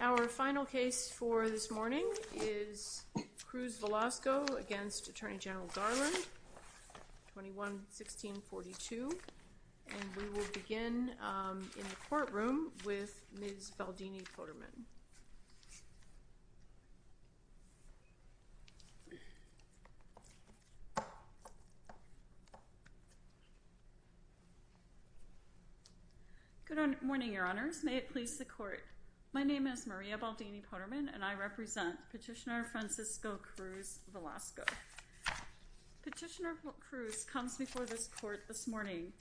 Our final case for this morning is Cruz-Velasco v. Attorney General Garland, 21-16-42. And we will begin in the courtroom with Ms. Valdini-Potterman. Good morning, Your Honors. May it please the Court. My name is Maria Valdini-Potterman, and I represent Petitioner Francisco Cruz-Velasco. Petitioner Cruz comes before this Court this morning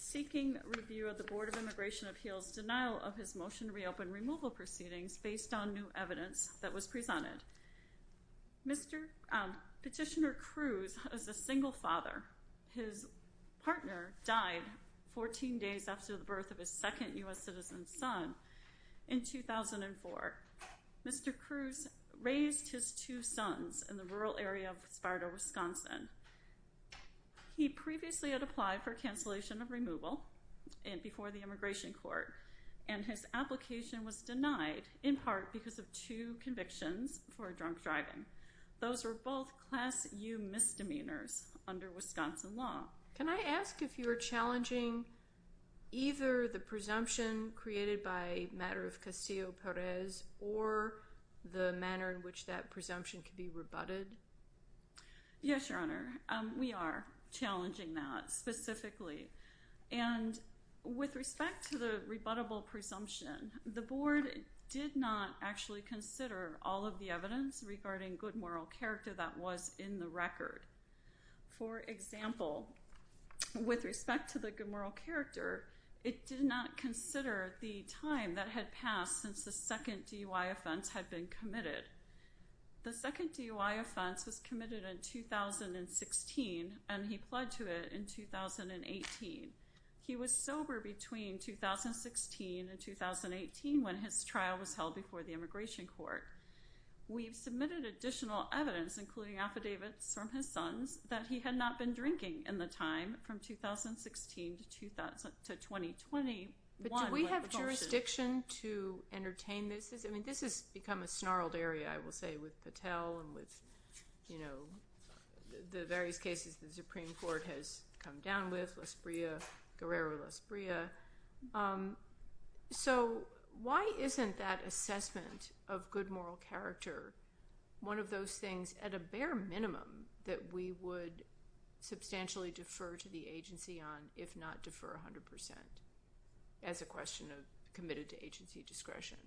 seeking review of the Board of Immigration Appeals' denial of his motion to reopen removal proceedings based on new evidence that was presented. Petitioner Cruz is a single father. His partner died 14 days after the birth of his second U.S. citizen son in 2004. Mr. Cruz raised his two sons in the rural area of Sparta, Wisconsin. He previously had applied for cancellation of removal before the Immigration Court, and his application was denied in part because of two convictions for drunk driving. Those were both Class U misdemeanors under Wisconsin law. Can I ask if you are challenging either the presumption created by a matter of Castillo-Perez or the manner in which that presumption could be rebutted? Yes, Your Honor. We are challenging that specifically. And with respect to the rebuttable presumption, the Board did not actually consider all of the evidence regarding good moral character that was in the record. For example, with respect to the good moral character, it did not consider the time that had passed since the second DUI offense had been committed. The second DUI offense was committed in 2016, and he pled to it in 2018. He was sober between 2016 and 2018 when his trial was held before the Immigration Court. We've submitted additional evidence, including affidavits from his sons, that he had not been drinking in the time from 2016 to 2021. But do we have jurisdiction to entertain this? I mean, this has become a snarled area, I will say, with Patel and with, you know, the various cases the Supreme Court has come down with, Lesbria, Guerrero-Lesbria. So why isn't that assessment of good moral character one of those things, at a bare minimum, that we would substantially defer to the agency on, if not defer 100% as a question of committed-to-agency discretion?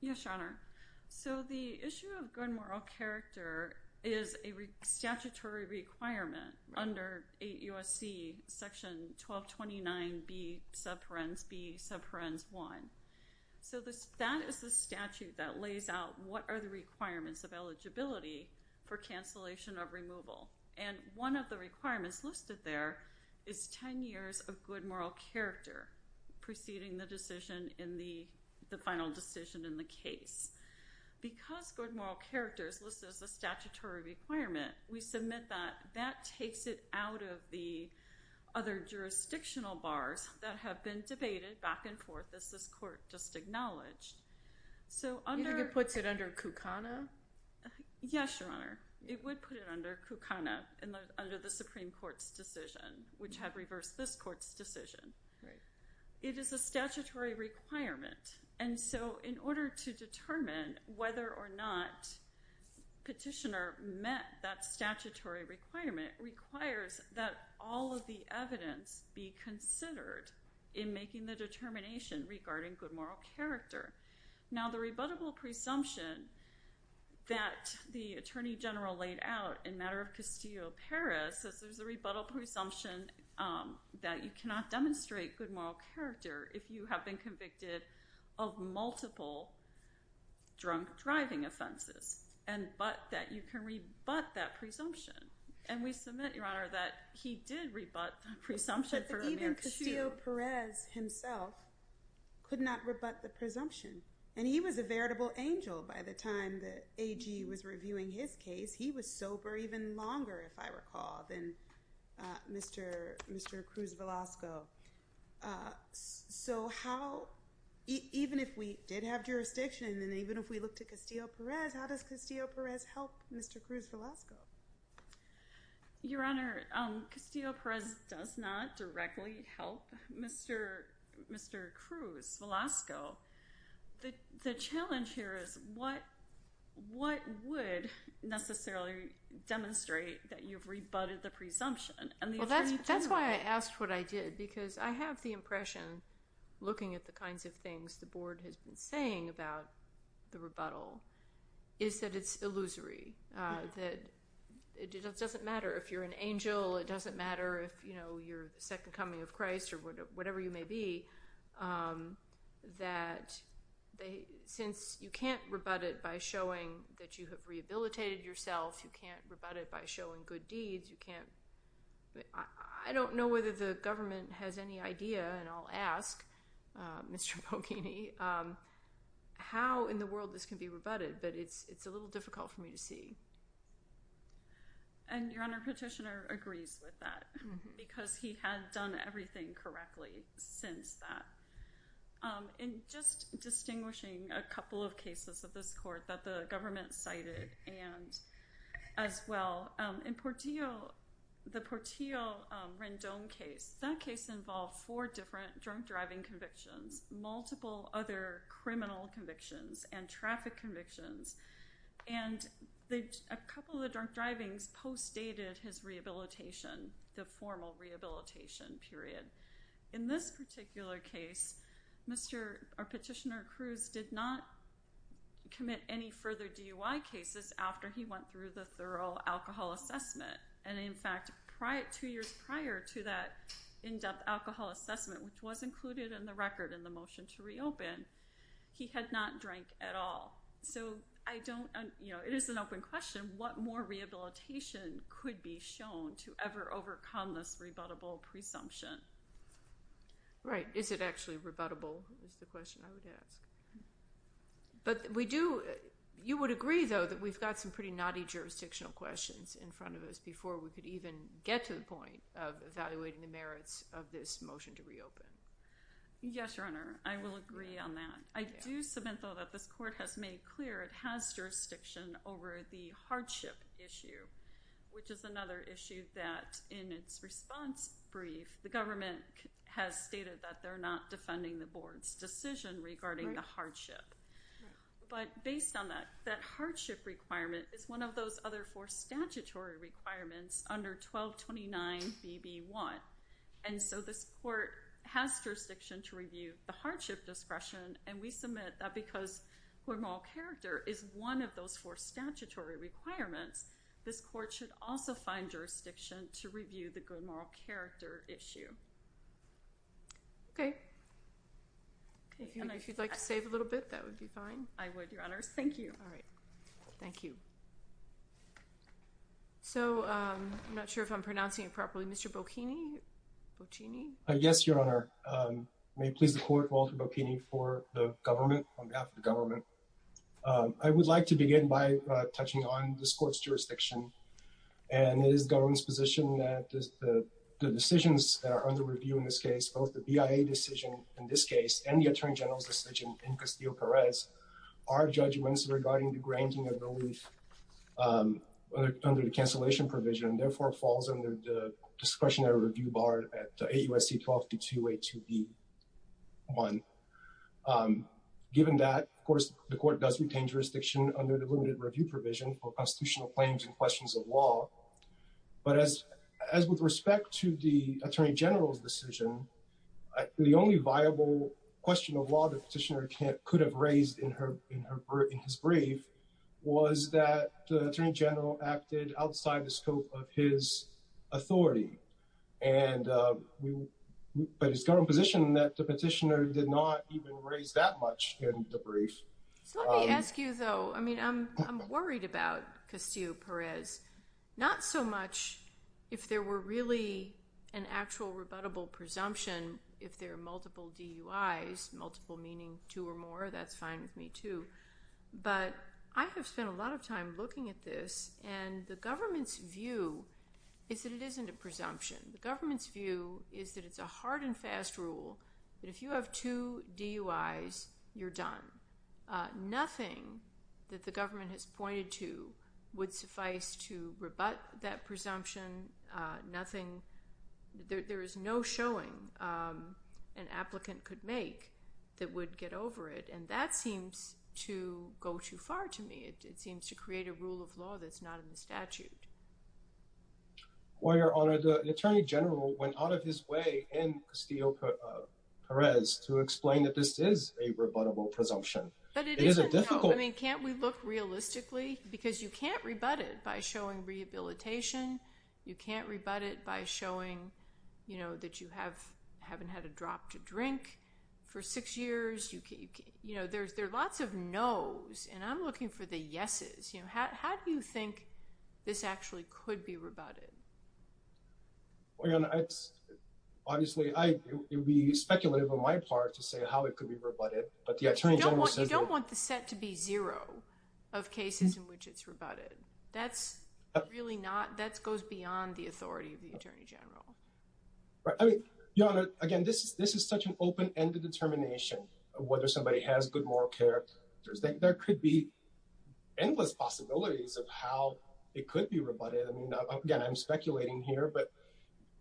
Yes, Your Honor. So the issue of good moral character is a statutory requirement under 8 U.S.C. Section 1229B, subparens B, subparens 1. So that is the statute that lays out what are the requirements of eligibility for cancellation of removal. And one of the requirements listed there is 10 years of good moral character preceding the decision in the final decision in the case. Because good moral character is listed as a statutory requirement, we submit that. That takes it out of the other jurisdictional bars that have been debated back and forth, as this court just acknowledged. You think it puts it under CUCANA? Yes, Your Honor. It would put it under CUCANA under the Supreme Court's decision, which had reversed this court's decision. It is a statutory requirement. And so in order to determine whether or not Petitioner met that statutory requirement requires that all of the evidence be considered in making the determination regarding good moral character. Now, the rebuttable presumption that the Attorney General laid out in matter of Castillo-Perez says there's a rebuttable presumption that you cannot demonstrate good moral character if you have been convicted of multiple drunk-driving offenses. But that you can rebut that presumption. And we submit, Your Honor, that he did rebut the presumption. But even Castillo-Perez himself could not rebut the presumption. And he was a veritable angel by the time that AG was reviewing his case. He was sober even longer, if I recall, than Mr. Cruz-Velasco. So how – even if we did have jurisdiction, and even if we looked at Castillo-Perez, how does Castillo-Perez help Mr. Cruz-Velasco? Your Honor, Castillo-Perez does not directly help Mr. Cruz-Velasco. The challenge here is what would necessarily demonstrate that you've rebutted the presumption? Well, that's why I asked what I did because I have the impression, looking at the kinds of things the Board has been saying about the rebuttal, is that it's illusory, that it doesn't matter if you're an angel, it doesn't matter if you're the second coming of Christ or whatever you may be, that since you can't rebut it by showing that you have rehabilitated yourself, you can't rebut it by showing good deeds, you can't – I don't know whether the government has any idea, and I'll ask Mr. Bocchini, how in the world this can be rebutted, but it's a little difficult for me to see. And, Your Honor, Petitioner agrees with that because he had done everything correctly since that. And just distinguishing a couple of cases of this court that the government cited as well, in Portillo, the Portillo-Rendon case, that case involved four different drunk driving convictions, multiple other criminal convictions, and traffic convictions. And a couple of the drunk drivings postdated his rehabilitation, the formal rehabilitation period. In this particular case, Petitioner Cruz did not commit any further DUI cases after he went through the thorough alcohol assessment. And, in fact, two years prior to that in-depth alcohol assessment, which was included in the record in the motion to reopen, he had not drank at all. So it is an open question what more rehabilitation could be shown to ever overcome this rebuttable presumption. Right. Is it actually rebuttable is the question I would ask. But you would agree, though, that we've got some pretty naughty jurisdictional questions in front of us before we could even get to the point of evaluating the merits of this motion to reopen. Yes, Your Honor, I will agree on that. I do submit, though, that this court has made clear it has jurisdiction over the hardship issue, which is another issue that, in its response brief, the government has stated that they're not defending the board's decision regarding the hardship. But based on that, that hardship requirement is one of those other four statutory requirements under 1229BB1. And so this court has jurisdiction to review the hardship discretion, and we submit that because good moral character is one of those four statutory requirements, this court should also find jurisdiction to review the good moral character issue. Okay. If you'd like to save a little bit, that would be fine. I would, Your Honor. Thank you. All right. Thank you. So I'm not sure if I'm pronouncing it properly. Mr. Bocchini? Yes, Your Honor. May it please the court, Walter Bocchini, for the government, on behalf of the government. I would like to begin by touching on this court's jurisdiction, and it is the government's position that the decisions that are under review in this case, both the BIA decision in this case, and the Attorney General's decision in Castillo-Perez, are judgments regarding the granting of relief under the cancellation provision, and therefore falls under the discretionary review bar at 8 U.S.C. 12282B1. Given that, of course, the court does retain jurisdiction under the limited review provision for constitutional claims and questions of law. But as with respect to the Attorney General's decision, the only viable question of law the petitioner could have raised in his brief was that the Attorney General acted outside the scope of his authority. But it's the government's position that the petitioner did not even raise that much in the brief. Let me ask you, though. I mean, I'm worried about Castillo-Perez. Not so much if there were really an actual rebuttable presumption, if there are multiple DUIs, multiple meaning two or more. That's fine with me, too. But I have spent a lot of time looking at this, and the government's view is that it isn't a presumption. The government's view is that it's a hard and fast rule, that if you have two DUIs, you're done. Nothing that the government has pointed to would suffice to rebut that presumption, nothing. There is no showing an applicant could make that would get over it, and that seems to go too far to me. It seems to create a rule of law that's not in the statute. Well, Your Honor, the Attorney General went out of his way in Castillo-Perez to explain that this is a rebuttable presumption. But it isn't, though. I mean, can't we look realistically? Because you can't rebut it by showing rehabilitation. You can't rebut it by showing, you know, that you haven't had a drop to drink for six years. You know, there are lots of nos, and I'm looking for the yeses. How do you think this actually could be rebutted? Well, Your Honor, obviously it would be speculative on my part to say how it could be rebutted. You don't want the set to be zero of cases in which it's rebutted. That's really not, that goes beyond the authority of the Attorney General. Your Honor, again, this is such an open-ended determination of whether somebody has good moral character. There could be endless possibilities of how it could be rebutted. Again, I'm speculating here, but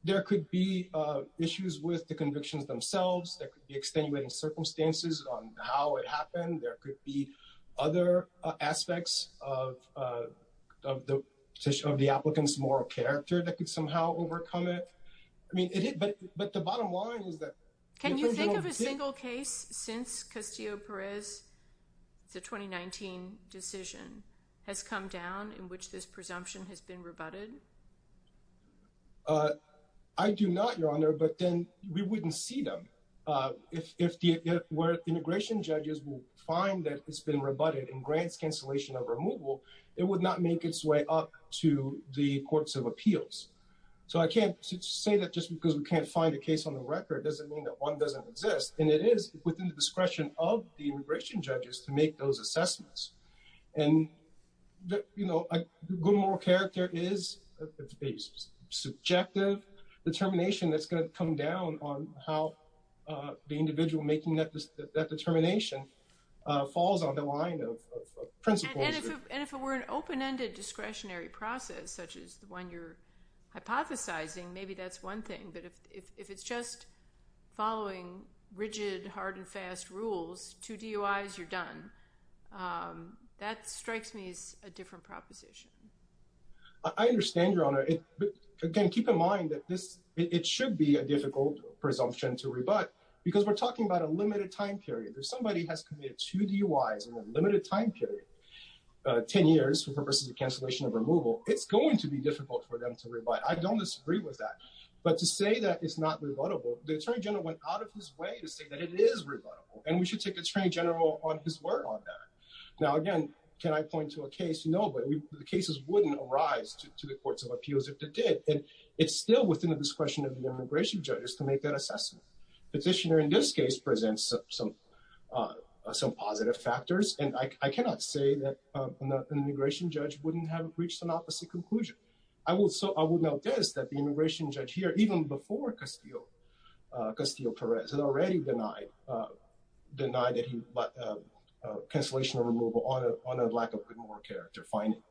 there could be issues with the convictions themselves. There could be extenuating circumstances on how it happened. There could be other aspects of the applicant's moral character that could somehow overcome it. I mean, but the bottom line is that- Can you think of a single case since Castillo-Perez, the 2019 decision, has come down in which this presumption has been rebutted? I do not, Your Honor, but then we wouldn't see them. If the immigration judges will find that it's been rebutted and grants cancellation of removal, it would not make its way up to the courts of appeals. So I can't say that just because we can't find a case on the record doesn't mean that one doesn't exist. And it is within the discretion of the immigration judges to make those assessments. And a good moral character is a subjective determination that's going to come down on how the individual making that determination falls on the line of principles. And if it were an open-ended discretionary process, such as the one you're hypothesizing, maybe that's one thing. But if it's just following rigid, hard, and fast rules, two DUIs, you're done. That strikes me as a different proposition. I understand, Your Honor. Again, keep in mind that it should be a difficult presumption to rebut because we're talking about a limited time period. If somebody has committed two DUIs in a limited time period, 10 years for purposes of cancellation of removal, it's going to be difficult for them to rebut. I don't disagree with that. But to say that it's not rebuttable, the Attorney General went out of his way to say that it is rebuttable, and we should take the Attorney General on his word on that. Now, again, can I point to a case? No, but the cases wouldn't arise to the courts of appeals if they did. And it's still within the discretion of the immigration judges to make that assessment. Petitioner in this case presents some positive factors, and I cannot say that an immigration judge wouldn't have reached an opposite conclusion. I will note this, that the immigration judge here, even before Castillo-Perez, had already denied cancellation of removal on a lack of criminal character finding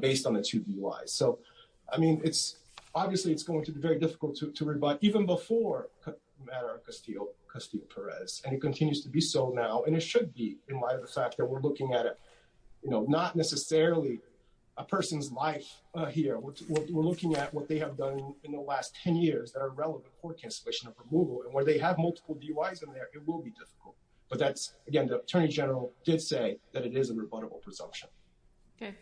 based on the two DUIs. So, I mean, obviously it's going to be very difficult to rebut, even before Madara-Castillo-Perez, and it continues to be so now. And it should be, in light of the fact that we're looking at it, not necessarily a person's life here. We're looking at what they have done in the last 10 years that are relevant for cancellation of removal. And where they have multiple DUIs in there, it will be difficult. But that's, again, the Attorney General did say that it is a rebuttable presumption. Okay.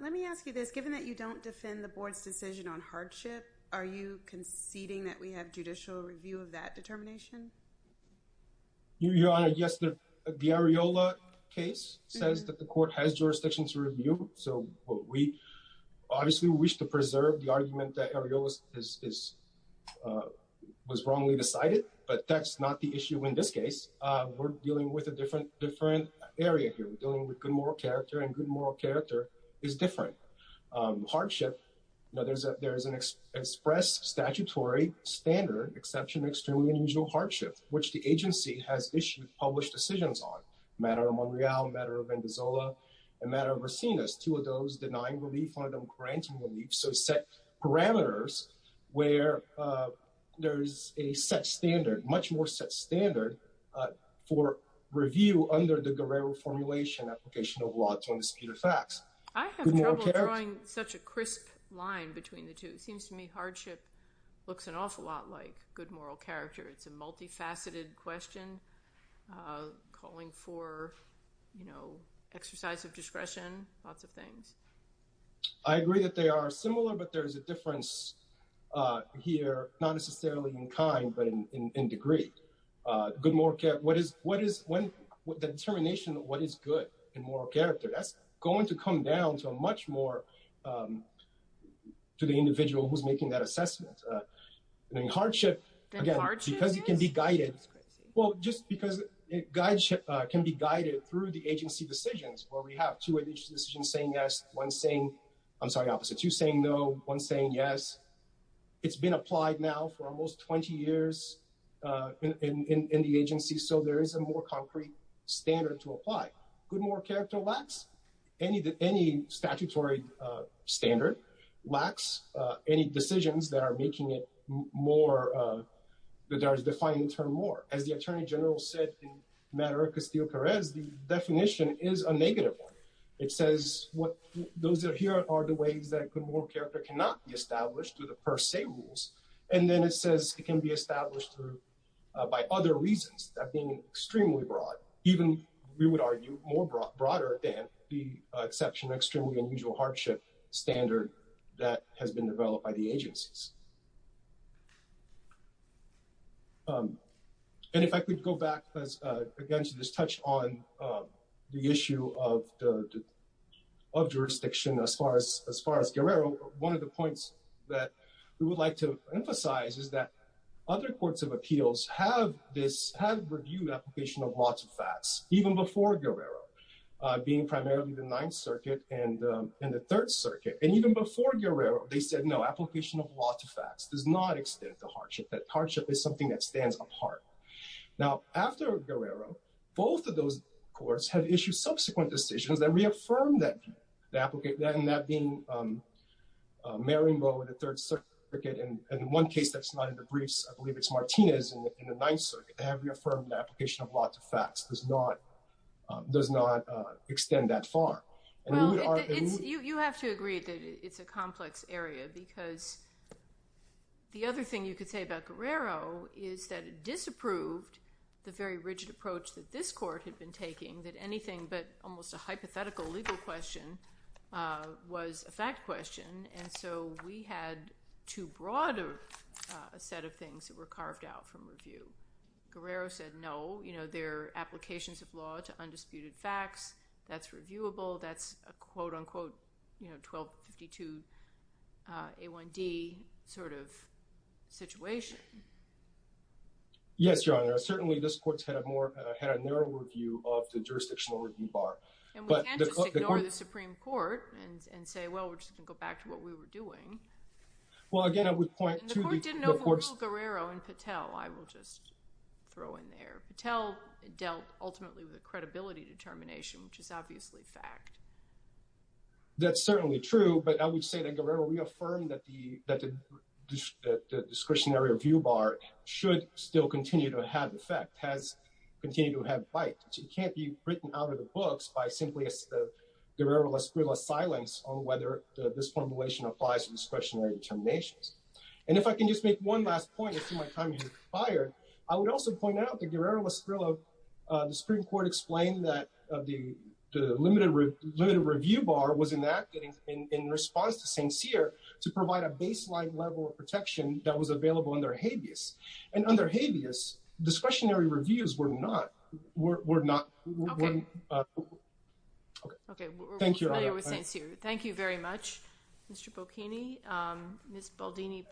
Let me ask you this. Given that you don't defend the board's decision on hardship, are you conceding that we have judicial review of that determination? Your Honor, yes. The Areola case says that the court has jurisdiction to review. So, we obviously wish to preserve the argument that Areola was wrongly decided. But that's not the issue in this case. We're dealing with a different area here. We're dealing with good moral character, and good moral character is different. Hardship, there is an express statutory standard, exception to extremely unusual hardship, which the agency has issued published decisions on. Matter of Monreal, matter of Venezuela, and matter of Resinas. Two of those denying relief, one of them granting relief. So, set parameters where there is a set standard, much more set standard for review under the Guerrero formulation, application of law to indisputed facts. I have trouble drawing such a crisp line between the two. It seems to me hardship looks an awful lot like good moral character. It's a multifaceted question calling for, you know, exercise of discretion, lots of things. I agree that they are similar, but there is a difference here, not necessarily in kind, but in degree. Good moral character, what is, when, the determination of what is good in moral character, that's going to come down to a much more, to the individual who's making that assessment. In hardship, again, because it can be guided. Well, just because it guides, can be guided through the agency decisions where we have two additional decisions saying yes, one saying, I'm sorry, opposite. Two saying no, one saying yes. It's been applied now for almost 20 years in the agency. So, there is a more concrete standard to apply. Good moral character lacks any statutory standard, lacks any decisions that are making it more, that are defining term more. As the attorney general said in Maduro Castillo Perez, the definition is a negative one. It says what those that are here are the ways that good moral character cannot be established through the per se rules. And then it says it can be established through, by other reasons that being extremely broad, even we would argue more broader than the exception, an extremely unusual hardship standard that has been developed by the agencies. And if I could go back again to this touch on the issue of the, of jurisdiction, as far as, as far as Guerrero, one of the points that we would like to emphasize is that other courts of facts, even before Guerrero, being primarily the ninth circuit and the third circuit, and even before Guerrero, they said, no, application of law to facts does not extend the hardship. That hardship is something that stands apart. Now after Guerrero, both of those courts have issued subsequent decisions that reaffirmed that the applicant, that, and that being Mary Mo with a third circuit. And in one case that's not in the briefs, I believe it's Martinez in the ninth circuit, have reaffirmed the application of lots of facts does not, does not extend that far. You have to agree that it's a complex area because the other thing you could say about Guerrero is that it disapproved the very rigid approach that this court had been taking, that anything, but almost a hypothetical legal question, was a fact question. And so we had too broad a set of things that were carved out from review. Guerrero said, no, you know, their applications of law to undisputed facts that's reviewable. That's a quote unquote, you know, 1252 A1D sort of situation. Yes, Your Honor. Certainly this court's had a more, had a narrow review of the jurisdictional review bar. And we can't just ignore the Supreme Court and say, well, we're just going to go back to what we were doing. Well, again, I would point to- General Guerrero and Patel, I will just throw in there. Patel dealt ultimately with a credibility determination, which is obviously fact. That's certainly true, but I would say that Guerrero reaffirmed that the, that the discretionary review bar should still continue to have effect, has continued to have bite. It can't be written out of the books by simply as the Guerrero-Lasgrilla silence on whether this formulation applies to discretionary determinations. And if I can just make one last point, I see my time has expired. I would also point out that Guerrero-Lasgrilla, the Supreme Court explained that the limited review bar was enacted in response to St. Cyr to provide a baseline level of protection that was available under habeas. And under habeas, discretionary reviews were not, were not- Okay. Okay. Thank you, Your Honor. Thank you very much, Mr. Bocchini. Ms. Baldini-Poderman.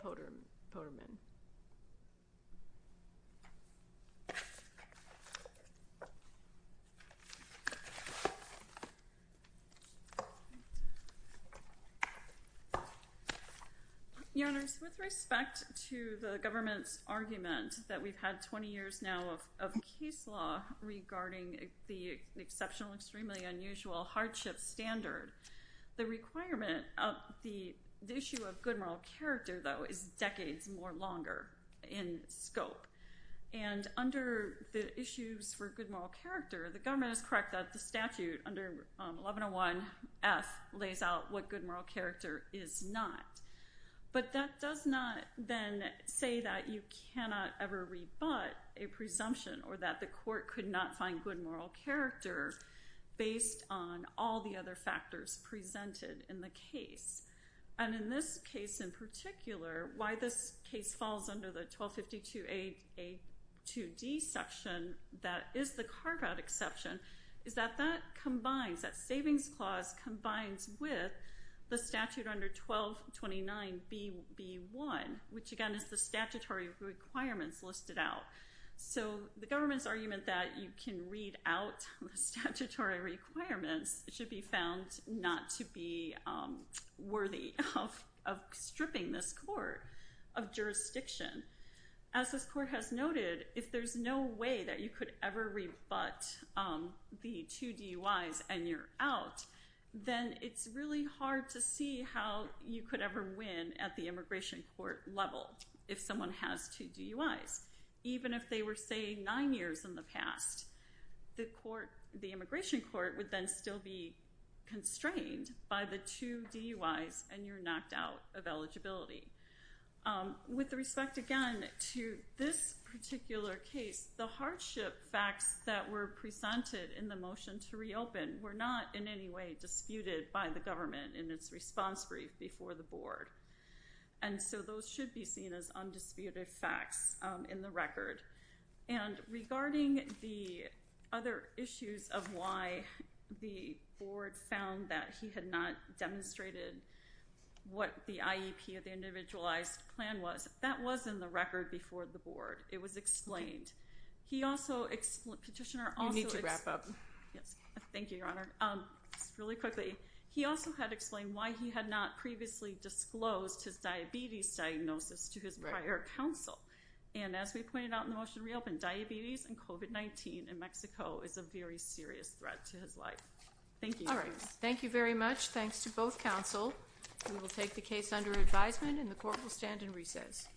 Your Honors, with respect to the government's argument that we've had 20 years now of case law regarding the exceptional, extremely unusual hardship standard, the requirement of the issue of good moral character, though, is decades more longer in scope. And under the issues for good moral character, the government is correct that the statute under 1101F lays out what good moral character is not. But that does not then say that you cannot ever rebut a presumption or that the court could not find good moral character based on all the other factors presented in the case. And in this case in particular, why this case falls under the 1252A2D section, that is the carve-out exception, is that that combines, that savings clause combines with the statute under 1229BB1, which again is the statutory requirements listed out. So the government's argument that you can read out the statutory requirements should be found not to be worthy of stripping this court of jurisdiction. As this court has noted, if there's no way that you could ever rebut the two DUIs and you're out, then it's really hard to see how you could ever win at the immigration court level if someone has two DUIs. Even if they were saying nine years in the past, the immigration court would then still be constrained by the two DUIs and you're knocked out of eligibility. With respect again to this particular case, the hardship facts that were presented in the motion to reopen were not in any way disputed by the government in its response brief before the board. And so those should be seen as undisputed facts in the record. And regarding the other issues of why the board found that he had not demonstrated what the IEP or the individualized plan was, that was in the record before the board. It was explained. He also, Petitioner also explained. You need to wrap up. Yes. Thank you, Your Honor. Just really quickly. He also had explained why he had not previously disclosed his diabetes diagnosis to his prior counsel. And as we pointed out in the motion to reopen, diabetes and COVID-19 in Mexico is a very serious threat to his life. Thank you. All right. Thank you very much. Thanks to both counsel. We will take the case under advisement and the court will stand in recess.